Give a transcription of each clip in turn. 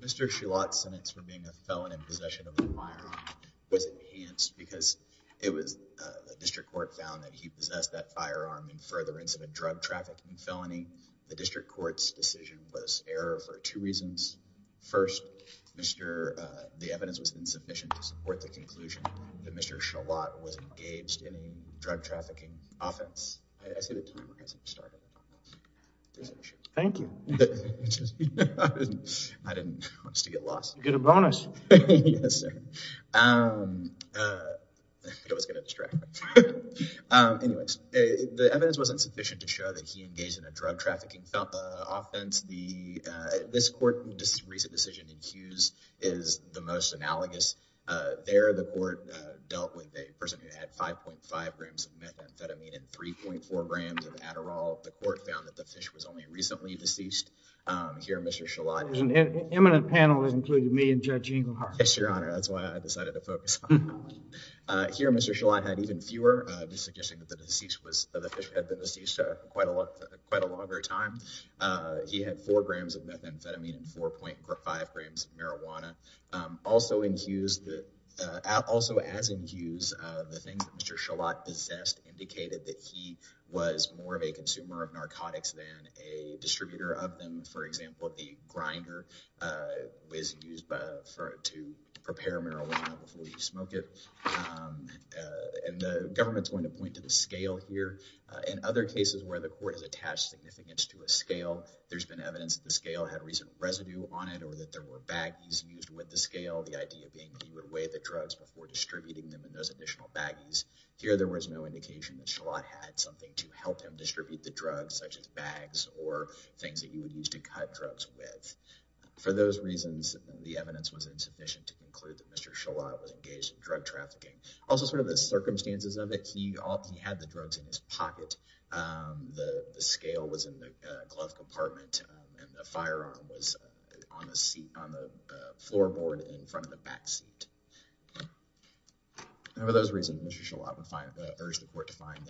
Mr. Choulat's sentence for being a felon in possession of a firearm was enhanced because it was the district court found that he possessed that firearm in furtherance of a drug trafficking felony. The district court's decision was error for two reasons. First, the evidence was insufficient to support the conclusion that Mr. Choulat was engaged in a drug trafficking offense. I see the timer hasn't started. Thank you. I didn't want to get lost. You get a bonus. It was going to distract me. Anyways, the evidence was insufficient to show that he engaged in a drug There, the court dealt with a person who had 5.5 grams of methamphetamine and 3.4 grams of Adderall. The court found that the fish was only recently deceased. Here, Mr. Choulat... An eminent panel has included me and Judge Engelhardt. Yes, Your Honor. That's why I decided to focus on him. Here, Mr. Choulat had even fewer, suggesting that the fish had been deceased quite a longer time. He had 4 grams of methamphetamine and 4.5 grams of marijuana. Also, as in Hughes, the things that Mr. Choulat possessed indicated that he was more of a consumer of narcotics than a distributor of them. For example, the grinder was used to prepare marijuana before you smoke it. And the government's going to point to the scale here. In other cases where the court has attached significance to a scale, there's been evidence that the scale had recent residue on it or that there were baggies used with the scale. The idea being that he would weigh the drugs before distributing them in those additional baggies. Here, there was no indication that Choulat had something to help him distribute the drugs, such as bags or things that he would use to cut drugs with. For those reasons, the evidence was insufficient to conclude that Mr. Choulat was engaged in drug trafficking. Also, sort of the circumstances of it, he often had the drugs in his pocket. The scale was in the glove compartment. The firearm was on the seat on the floorboard in front of the back seat. And for those reasons, Mr. Choulat would urge the court to find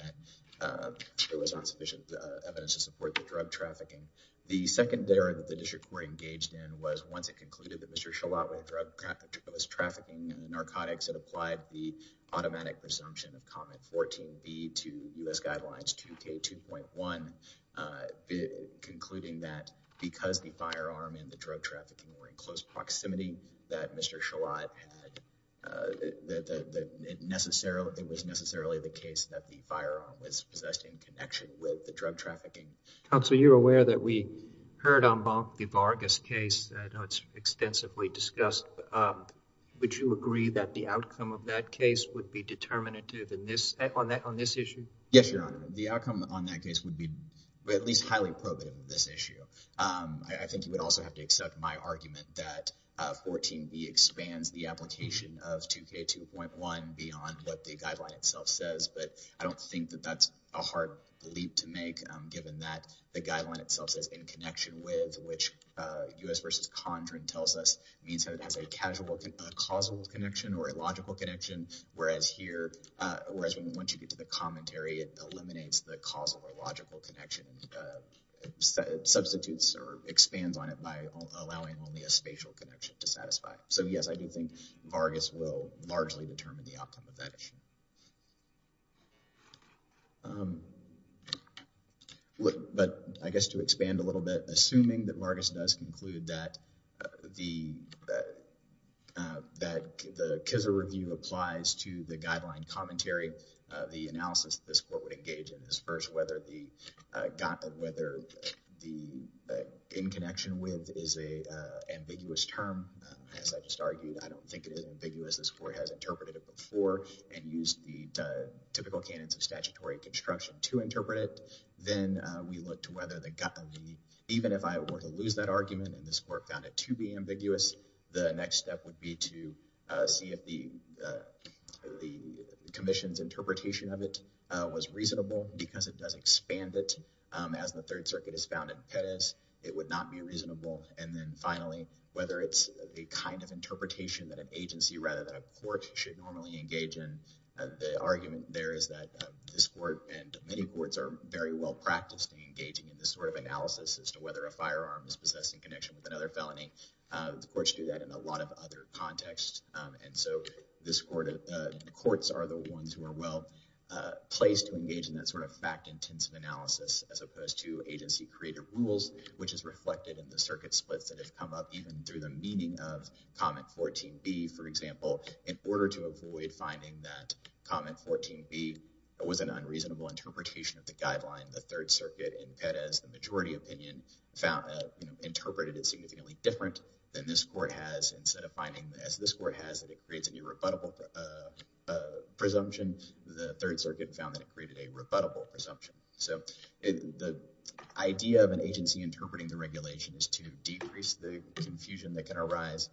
that there was not sufficient evidence to support the drug trafficking. The secondary that the district court engaged in was once it concluded that Mr. Choulat was trafficking in the narcotics, it applied the because the firearm and the drug trafficking were in close proximity that Mr. Choulat had, it was necessarily the case that the firearm was possessed in connection with the drug trafficking. Counsel, you're aware that we heard on Bonk v. Vargas case that's extensively discussed. Would you agree that the outcome of that case would be determinative on this issue? Yes, Your Honor. The outcome on that case would be at least highly probative of this issue. I think you would also have to accept my argument that 14b expands the application of 2k2.1 beyond what the guideline itself says. But I don't think that that's a hard leap to make, given that the guideline itself says in connection with which U.S. v. Condren tells us means that it has a causal connection or a logical connection. Whereas here, whereas once you get to the or expands on it by allowing only a spatial connection to satisfy. So yes, I do think Vargas will largely determine the outcome of that issue. But I guess to expand a little bit, assuming that Vargas does conclude that the Kizzer review applies to the guideline commentary, the analysis this court would in connection with is a ambiguous term. As I just argued, I don't think it is ambiguous. This court has interpreted it before and used the typical canons of statutory construction to interpret it. Then we look to whether the even if I were to lose that argument, and this court found it to be ambiguous, the next step would be to see if the commission's interpretation of it was reasonable because it does expand it as the third circuit is found in Pettus, it would not be reasonable. And then finally, whether it's a kind of interpretation that an agency rather than a court should normally engage in. The argument there is that this court and many courts are very well practiced in engaging in this sort of analysis as to whether a firearm is possessed in connection with another felony. The courts do that in a lot of other contexts. And so this court, the courts are the ones who are placed to engage in that sort of fact-intensive analysis as opposed to agency-created rules, which is reflected in the circuit splits that have come up even through the meaning of comment 14B, for example, in order to avoid finding that comment 14B was an unreasonable interpretation of the guideline, the third circuit in Pettus, the majority opinion interpreted it significantly different than this court has instead of finding as this court has that it the third circuit found that it created a rebuttable presumption. So the idea of an agency interpreting the regulation is to decrease the confusion that can arise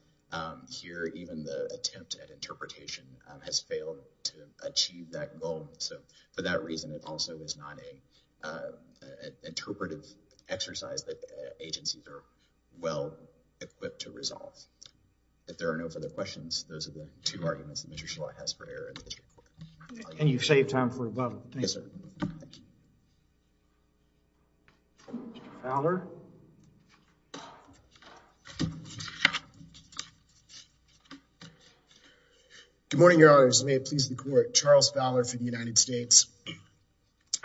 here. Even the attempt at interpretation has failed to achieve that goal. So for that reason, it also is not a interpretive exercise that agencies are well equipped to resolve. If there are no further questions, those are the two arguments that Mr. Schillack has for error in this case. And you've saved time for a bubble. Thank you, sir. Valor. Good morning, Your Honors. May it please the Court. Charles Valor for the United States.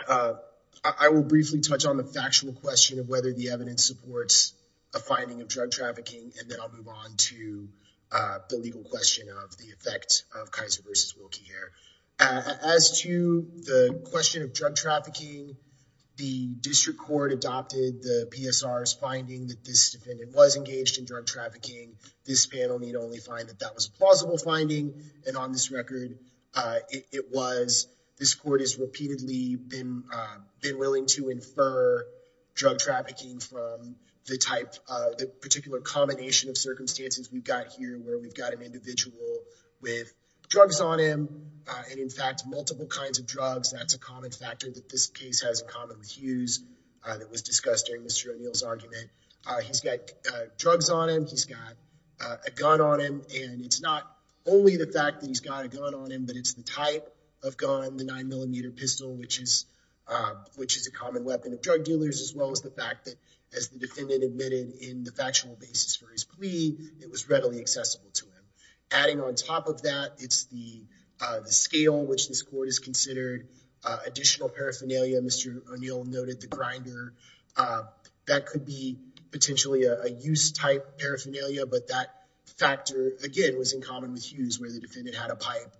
I will briefly touch on the factual question of whether the evidence supports a finding of drug trafficking, and then I'll move on to the legal question of the effect of Kaiser versus Wilkie Hare. As to the question of drug trafficking, the district court adopted the PSR's finding that this defendant was engaged in drug trafficking. This panel need only find that that was a plausible finding. And on this record, it was. This court has repeatedly been willing to infer drug trafficking from the particular combination of circumstances we've got here, where we've got an individual with drugs on him, and in fact, multiple kinds of drugs. That's a common factor that this case has in common with Hughes that was discussed during Mr. O'Neill's argument. He's got drugs on him. He's got a gun on him. And it's not only the fact that he's got a gun on him, but it's the type of gun, the 9mm pistol, which is a common weapon of drug dealers, as well as the fact that, as the defendant admitted in the factual basis for his plea, it was readily accessible to him. Adding on top of that, it's the scale which this court has considered, additional paraphernalia. Mr. O'Neill noted the grinder. That could be potentially a use-type paraphernalia, but that factor, again, was in common with Hughes, where the defendant had a pipe.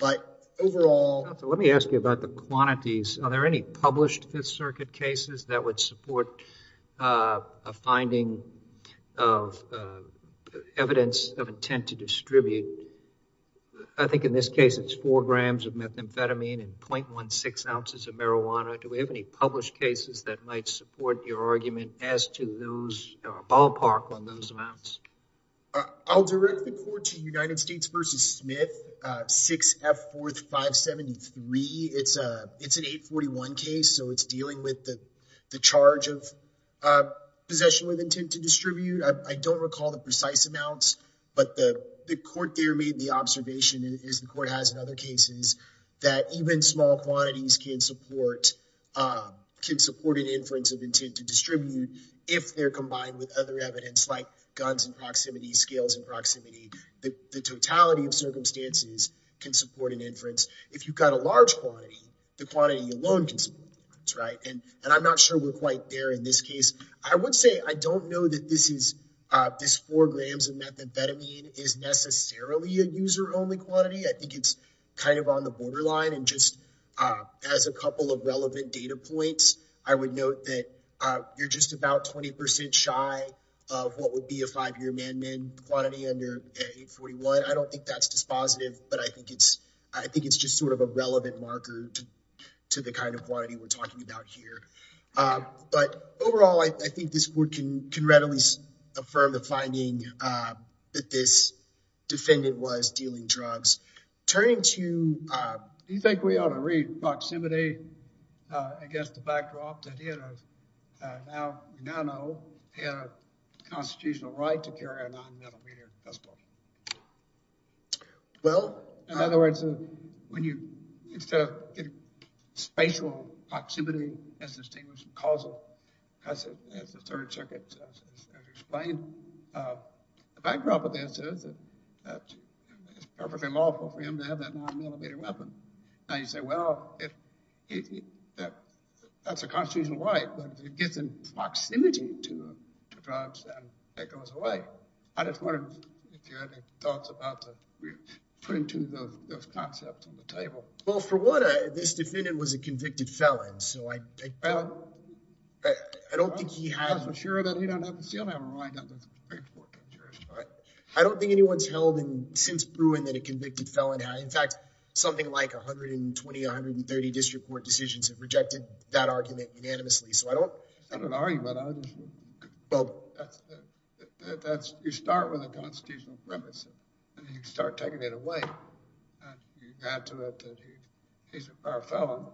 But overall... Let me ask you about the quantities. Are there any published Fifth Circuit cases that would support a finding of evidence of intent to distribute? I think in this case, it's 4 grams of methamphetamine and 0.16 ounces of marijuana. Do we have any ballpark on those amounts? I'll direct the court to United States v. Smith, 6F4573. It's an 841 case, so it's dealing with the charge of possession with intent to distribute. I don't recall the precise amounts, but the court there made the observation, as the court has in other cases, that even small quantities can support an inference of intent to distribute if they're combined with other evidence, like guns in proximity, scales in proximity. The totality of circumstances can support an inference. If you've got a large quantity, the quantity alone can support an inference. I'm not sure we're quite there in this case. I would say I don't know that this 4 grams of methamphetamine is necessarily a user-only quantity. I think it's kind of on the borderline, and just as a couple of relevant data points, I would note that you're just about 20 percent shy of what would be a five-year man-to-man quantity under 841. I don't think that's dispositive, but I think it's just sort of a relevant marker to the kind of quantity we're talking about here. But overall, I think this court can readily affirm the finding that this defendant was dealing drugs. Turning to, do you think we ought to read proximity against the backdrop that he had a now, you now know, he had a constitutional right to carry a non-methamphetamine pistol? Well, in other words, when you, instead of spatial proximity as distinguished and causal, as the Third Circuit has explained, the backdrop of this is that it's perfectly lawful for him to have that non-methamphetamine weapon. Now you say, well, that's a constitutional right, but if it gets in proximity to drugs, then it goes away. I just wondered if you had any thoughts about putting those concepts on the table. Well, for one, this defendant was convicted felon, so I don't think he had. I'm not so sure that he don't have a seal. I don't think anyone's held since Bruin that a convicted felon had, in fact, something like 120, 130 district court decisions have rejected that argument unanimously. So I don't. It's not an argument. You start with a constitutional premise and you start taking it and you add to it that he's a felon.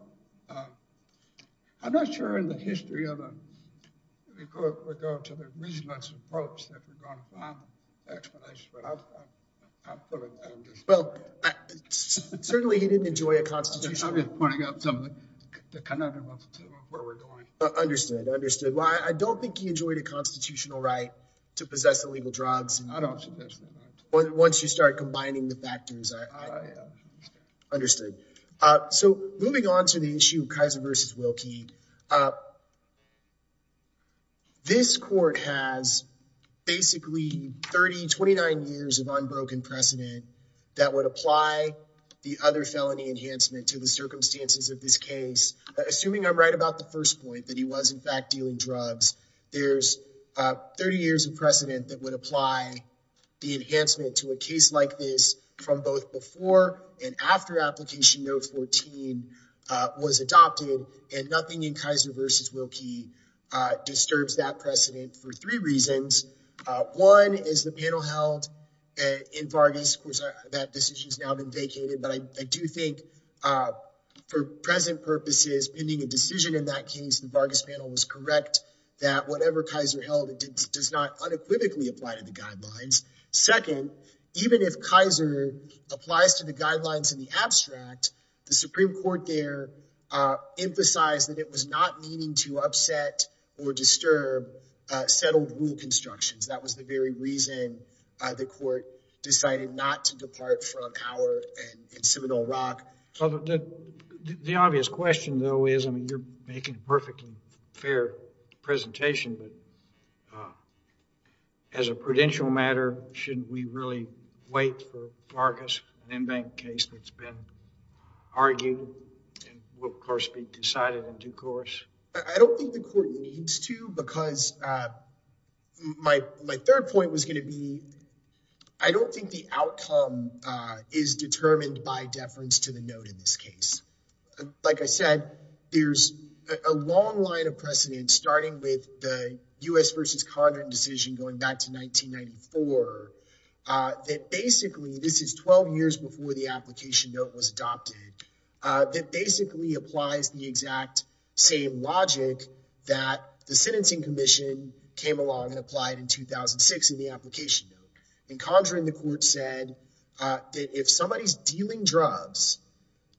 I'm not sure in the history of it, we go to the reasonableness approach that we're going to find explanations, but I'm pulling from this. Well, certainly he didn't enjoy a constitutional right. I'm just pointing out some of the conundrums to where we're going. Understood, understood. Well, I don't think he enjoyed a constitutional right to possess illegal drugs. I don't suggest that. Once you start combining the factors, I understood. So moving on to the issue of Kaiser versus Wilkie, this court has basically 30, 29 years of unbroken precedent that would apply the other felony enhancement to the circumstances of this case. Assuming I'm right about the first point that he was in fact dealing drugs, there's 30 years of precedent that would apply the enhancement to a case like this from both before and after application no. 14 was adopted and nothing in Kaiser versus Wilkie disturbs that precedent for three reasons. One is the panel held in Vargas. That decision has now been vacated, but I do think for present purposes, pending a decision in that case, the Vargas panel was correct that whatever Kaiser held does not unequivocally apply to the guidelines. Second, even if Kaiser applies to the guidelines in the abstract, the Supreme Court there emphasized that it was not meaning to upset or disturb settled rule constructions. That was the very reason the court decided not to depart from Auer and Seminole Rock. The obvious question though is, I mean, you're making a perfectly fair presentation, but as a prudential matter, should we really wait for Vargas, an in-bank case that's been argued and will of course be decided in due course? I don't think the court needs to because my third point was going to be, I don't think the outcome is determined by deference to the note in this case. Like I said, there's a long line of precedent starting with the U.S. versus Condren decision going back to 1994. That basically, this is 12 years before the application note was adopted. That basically applies the exact same logic that the sentencing commission came along and applied in 2006 in the application note. And Condren, the court said that if somebody's dealing drugs,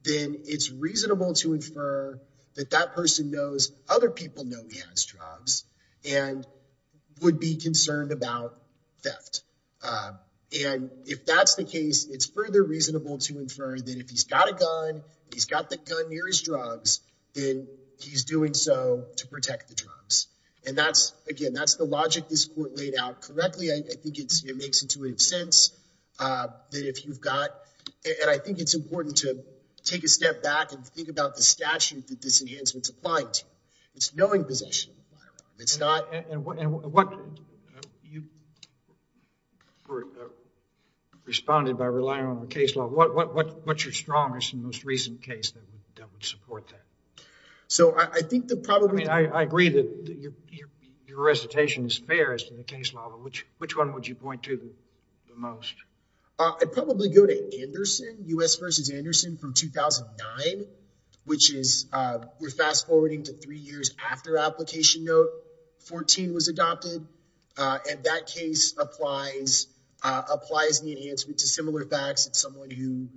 then it's reasonable to infer that that person knows other people know he has drugs and would be concerned about theft. And if that's the case, it's further reasonable to infer that if he's got a gun, he's got the gun near his drugs, then he's doing so to protect the drugs. And that's, again, that's the logic this court laid out correctly. I think it makes intuitive sense that if you've got, and I think it's important to step back and think about the statute that this enhancement's applying to, it's knowing possession. It's not. And what you responded by relying on the case law, what's your strongest and most recent case that would support that? So I think the problem, I agree that your recitation is fair as to the case law, but which one would you point to the most? I'd probably go to Anderson, U.S. versus Anderson from 2009, which is, we're fast forwarding to three years after application note 14 was adopted. And that case applies the enhancement to similar facts. It's someone who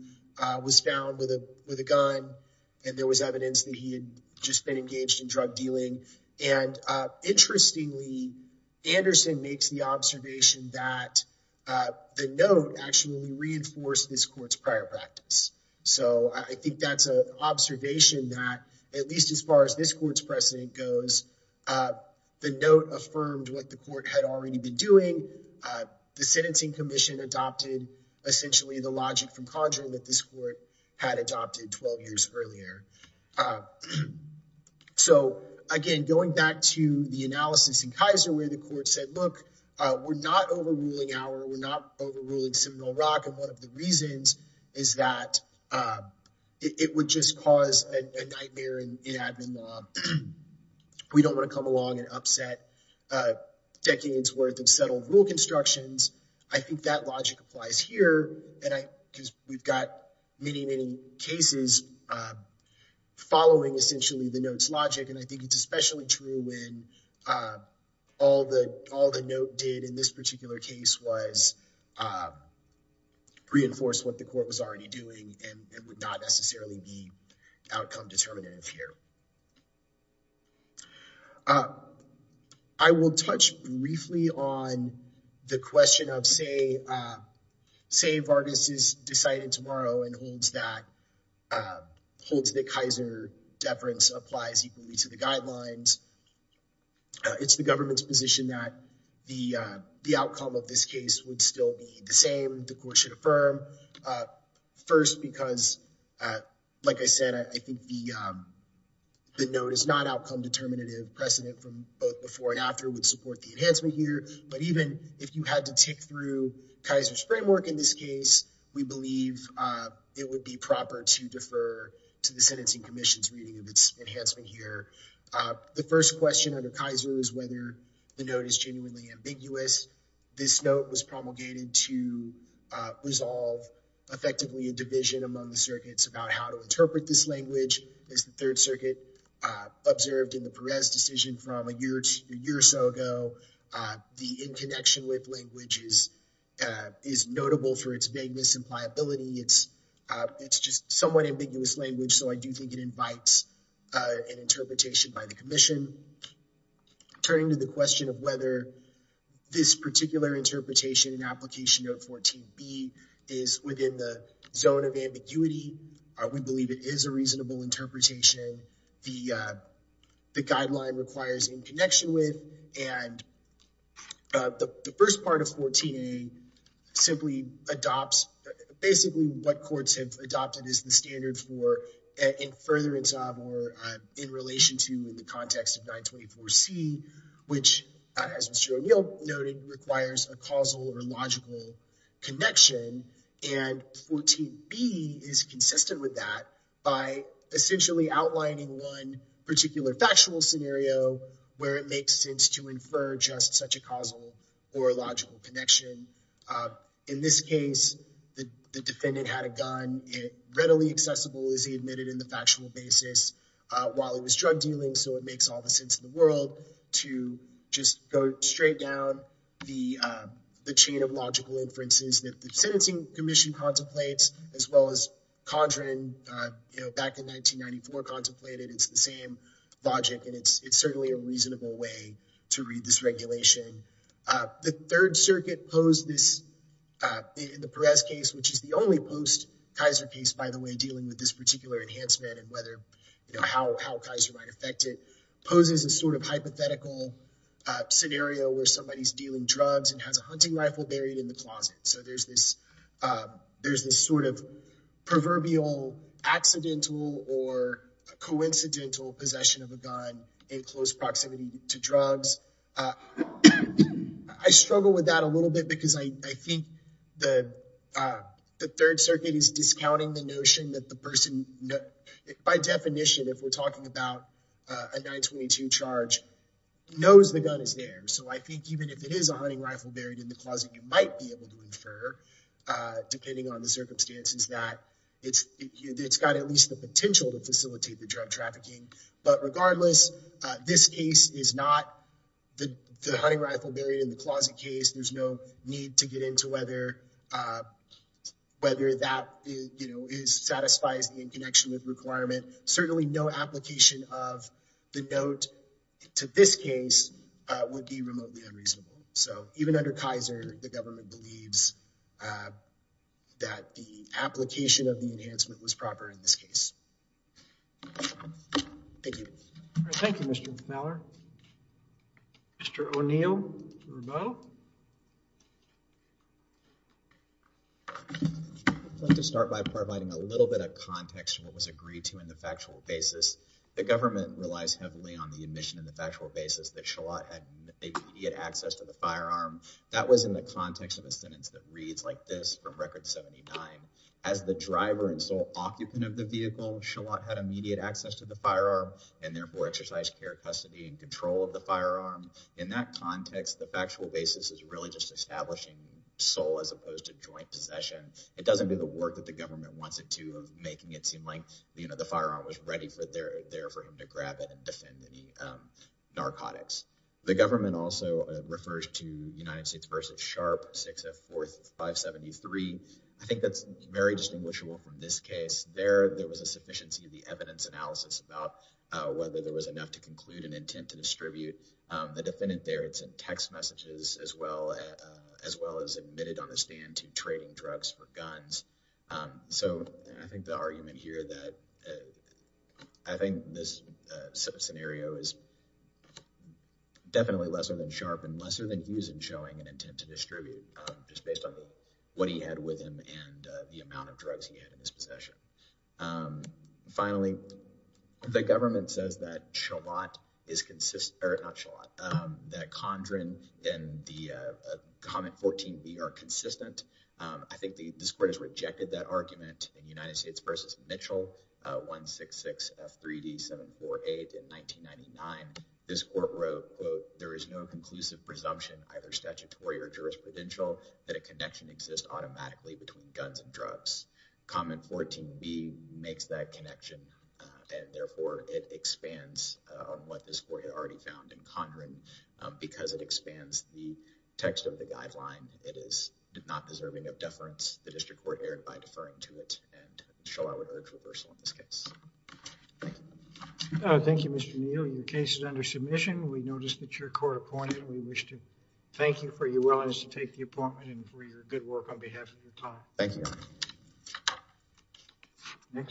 was found with a gun and there was evidence that he had just been reinforced this court's prior practice. So I think that's an observation that at least as far as this court's precedent goes, the note affirmed what the court had already been doing. The sentencing commission adopted essentially the logic from conjuring that this court had adopted 12 years earlier. So again, going back to the analysis in Kaiser, where the court said, we're not overruling our, we're not overruling Seminole Rock. And one of the reasons is that it would just cause a nightmare in admin law. We don't want to come along and upset decades worth of settled rule constructions. I think that logic applies here. And I, because we've got many, many cases following essentially the notes logic. And I think it's did in this particular case was reinforce what the court was already doing. And it would not necessarily be outcome determinative here. I will touch briefly on the question of say Vargas is decided tomorrow and holds that holds the Kaiser deference applies equally to the outcome of this case would still be the same. The court should affirm first because like I said, I think the note is not outcome determinative precedent from both before and after would support the enhancement here. But even if you had to tick through Kaiser's framework in this case, we believe it would be proper to defer to the sentencing commission's reading of its enhancement here. The first question under Kaiser is whether the note is genuinely ambiguous. This note was promulgated to resolve effectively a division among the circuits about how to interpret this language is the third circuit observed in the Perez decision from a year to a year or so ago. The in connection with languages is notable for its vagueness and pliability. It's just somewhat ambiguous language. So I do think it invites an interpretation by the commission. Turning to the question of whether this particular interpretation and application of 14B is within the zone of ambiguity, we believe it is a reasonable interpretation. The guideline requires in connection with and the first part of 14A simply adopts basically what courts have adopted as the standard for furtherance of or in relation to in the context of 924C, which as Mr. O'Neill noted, requires a causal or logical connection. And 14B is consistent with that by essentially outlining one particular factual scenario where it makes sense to infer just such a causal or logical connection. In this case, the defendant had a gun readily accessible as he admitted in the factual basis while he was drug dealing. So it makes all the sense in the world to just go straight down the chain of logical inferences that the sentencing commission contemplates as well as Condren, back in 1994, contemplated. It's the same logic and it's certainly a reasonable way to read this regulation. The Third Circuit posed this in the Perez case, which is the only post Kaiser case, by the way, dealing with this particular enhancement and how Kaiser might affect it, poses a sort of hypothetical scenario where somebody's dealing drugs and has a hunting rifle buried in the closet. So there's this proverbial accidental or coincidental possession of a gun in close proximity to drugs. I struggle with that a little bit because I think the Third Circuit is discounting the notion that the person, by definition, if we're talking about a 922 charge, knows the gun is there. So I think even if it is a hunting rifle buried in the closet, you might be able to infer, depending on the circumstances, that it's got at least the same amount of weight. Regardless, this case is not the hunting rifle buried in the closet case. There's no need to get into whether that satisfies the in connection with requirement. Certainly no application of the note to this case would be remotely unreasonable. So even under Kaiser, the government believes that the application of the enhancement was proper in this case. Thank you, Mr. Fowler. Mr. O'Neill? I'd like to start by providing a little bit of context to what was agreed to in the factual basis. The government relies heavily on the admission in the factual basis that Shallot had immediate access to the firearm. That was in the context of a sentence that reads like this from Record 79. As the driver and sole occupant of the vehicle, Shallot had immediate access to the firearm, and therefore exercised care, custody, and control of the firearm. In that context, the factual basis is really just establishing sole as opposed to joint possession. It doesn't do the work that the government wants it to of making it seem like the firearm was ready for there for him to grab it and defend any narcotics. The government also refers to United States v. Sharp, 6th of 4th, 573. I think that's very distinguishable from this case. There, there was a sufficiency of the evidence analysis about whether there was enough to conclude an intent to distribute. The defendant there had sent text messages as well as admitted on the stand to trading drugs for guns. So I think the argument here that I think this scenario is definitely lesser than Sharp and lesser than Hughes in showing an intent to distribute just based on what he had with him and the amount of drugs he had in his possession. Finally, the government says that Shallot is consistent, or not Shallot, that Condren and the comment 14B are consistent. I think this court has rejected that argument in United States v. Mitchell, 166 F3D 748 in 1999. This court wrote, quote, there is no conclusive presumption, either statutory or jurisprudential, that a connection exists automatically between guns and drugs. Comment 14B makes that connection, and therefore it expands on what this court had already found in Condren. Because it expands the text of the guideline, it is not deserving of deference. The district court erred by deferring to it, and Shallot would urge reversal in this case. Thank you. Thank you, Mr. Neal. Your case is under submission. We noticed that you're court appointed. We wish to thank you for your willingness to take the appointment and for your good work on behalf of your time. Thank you.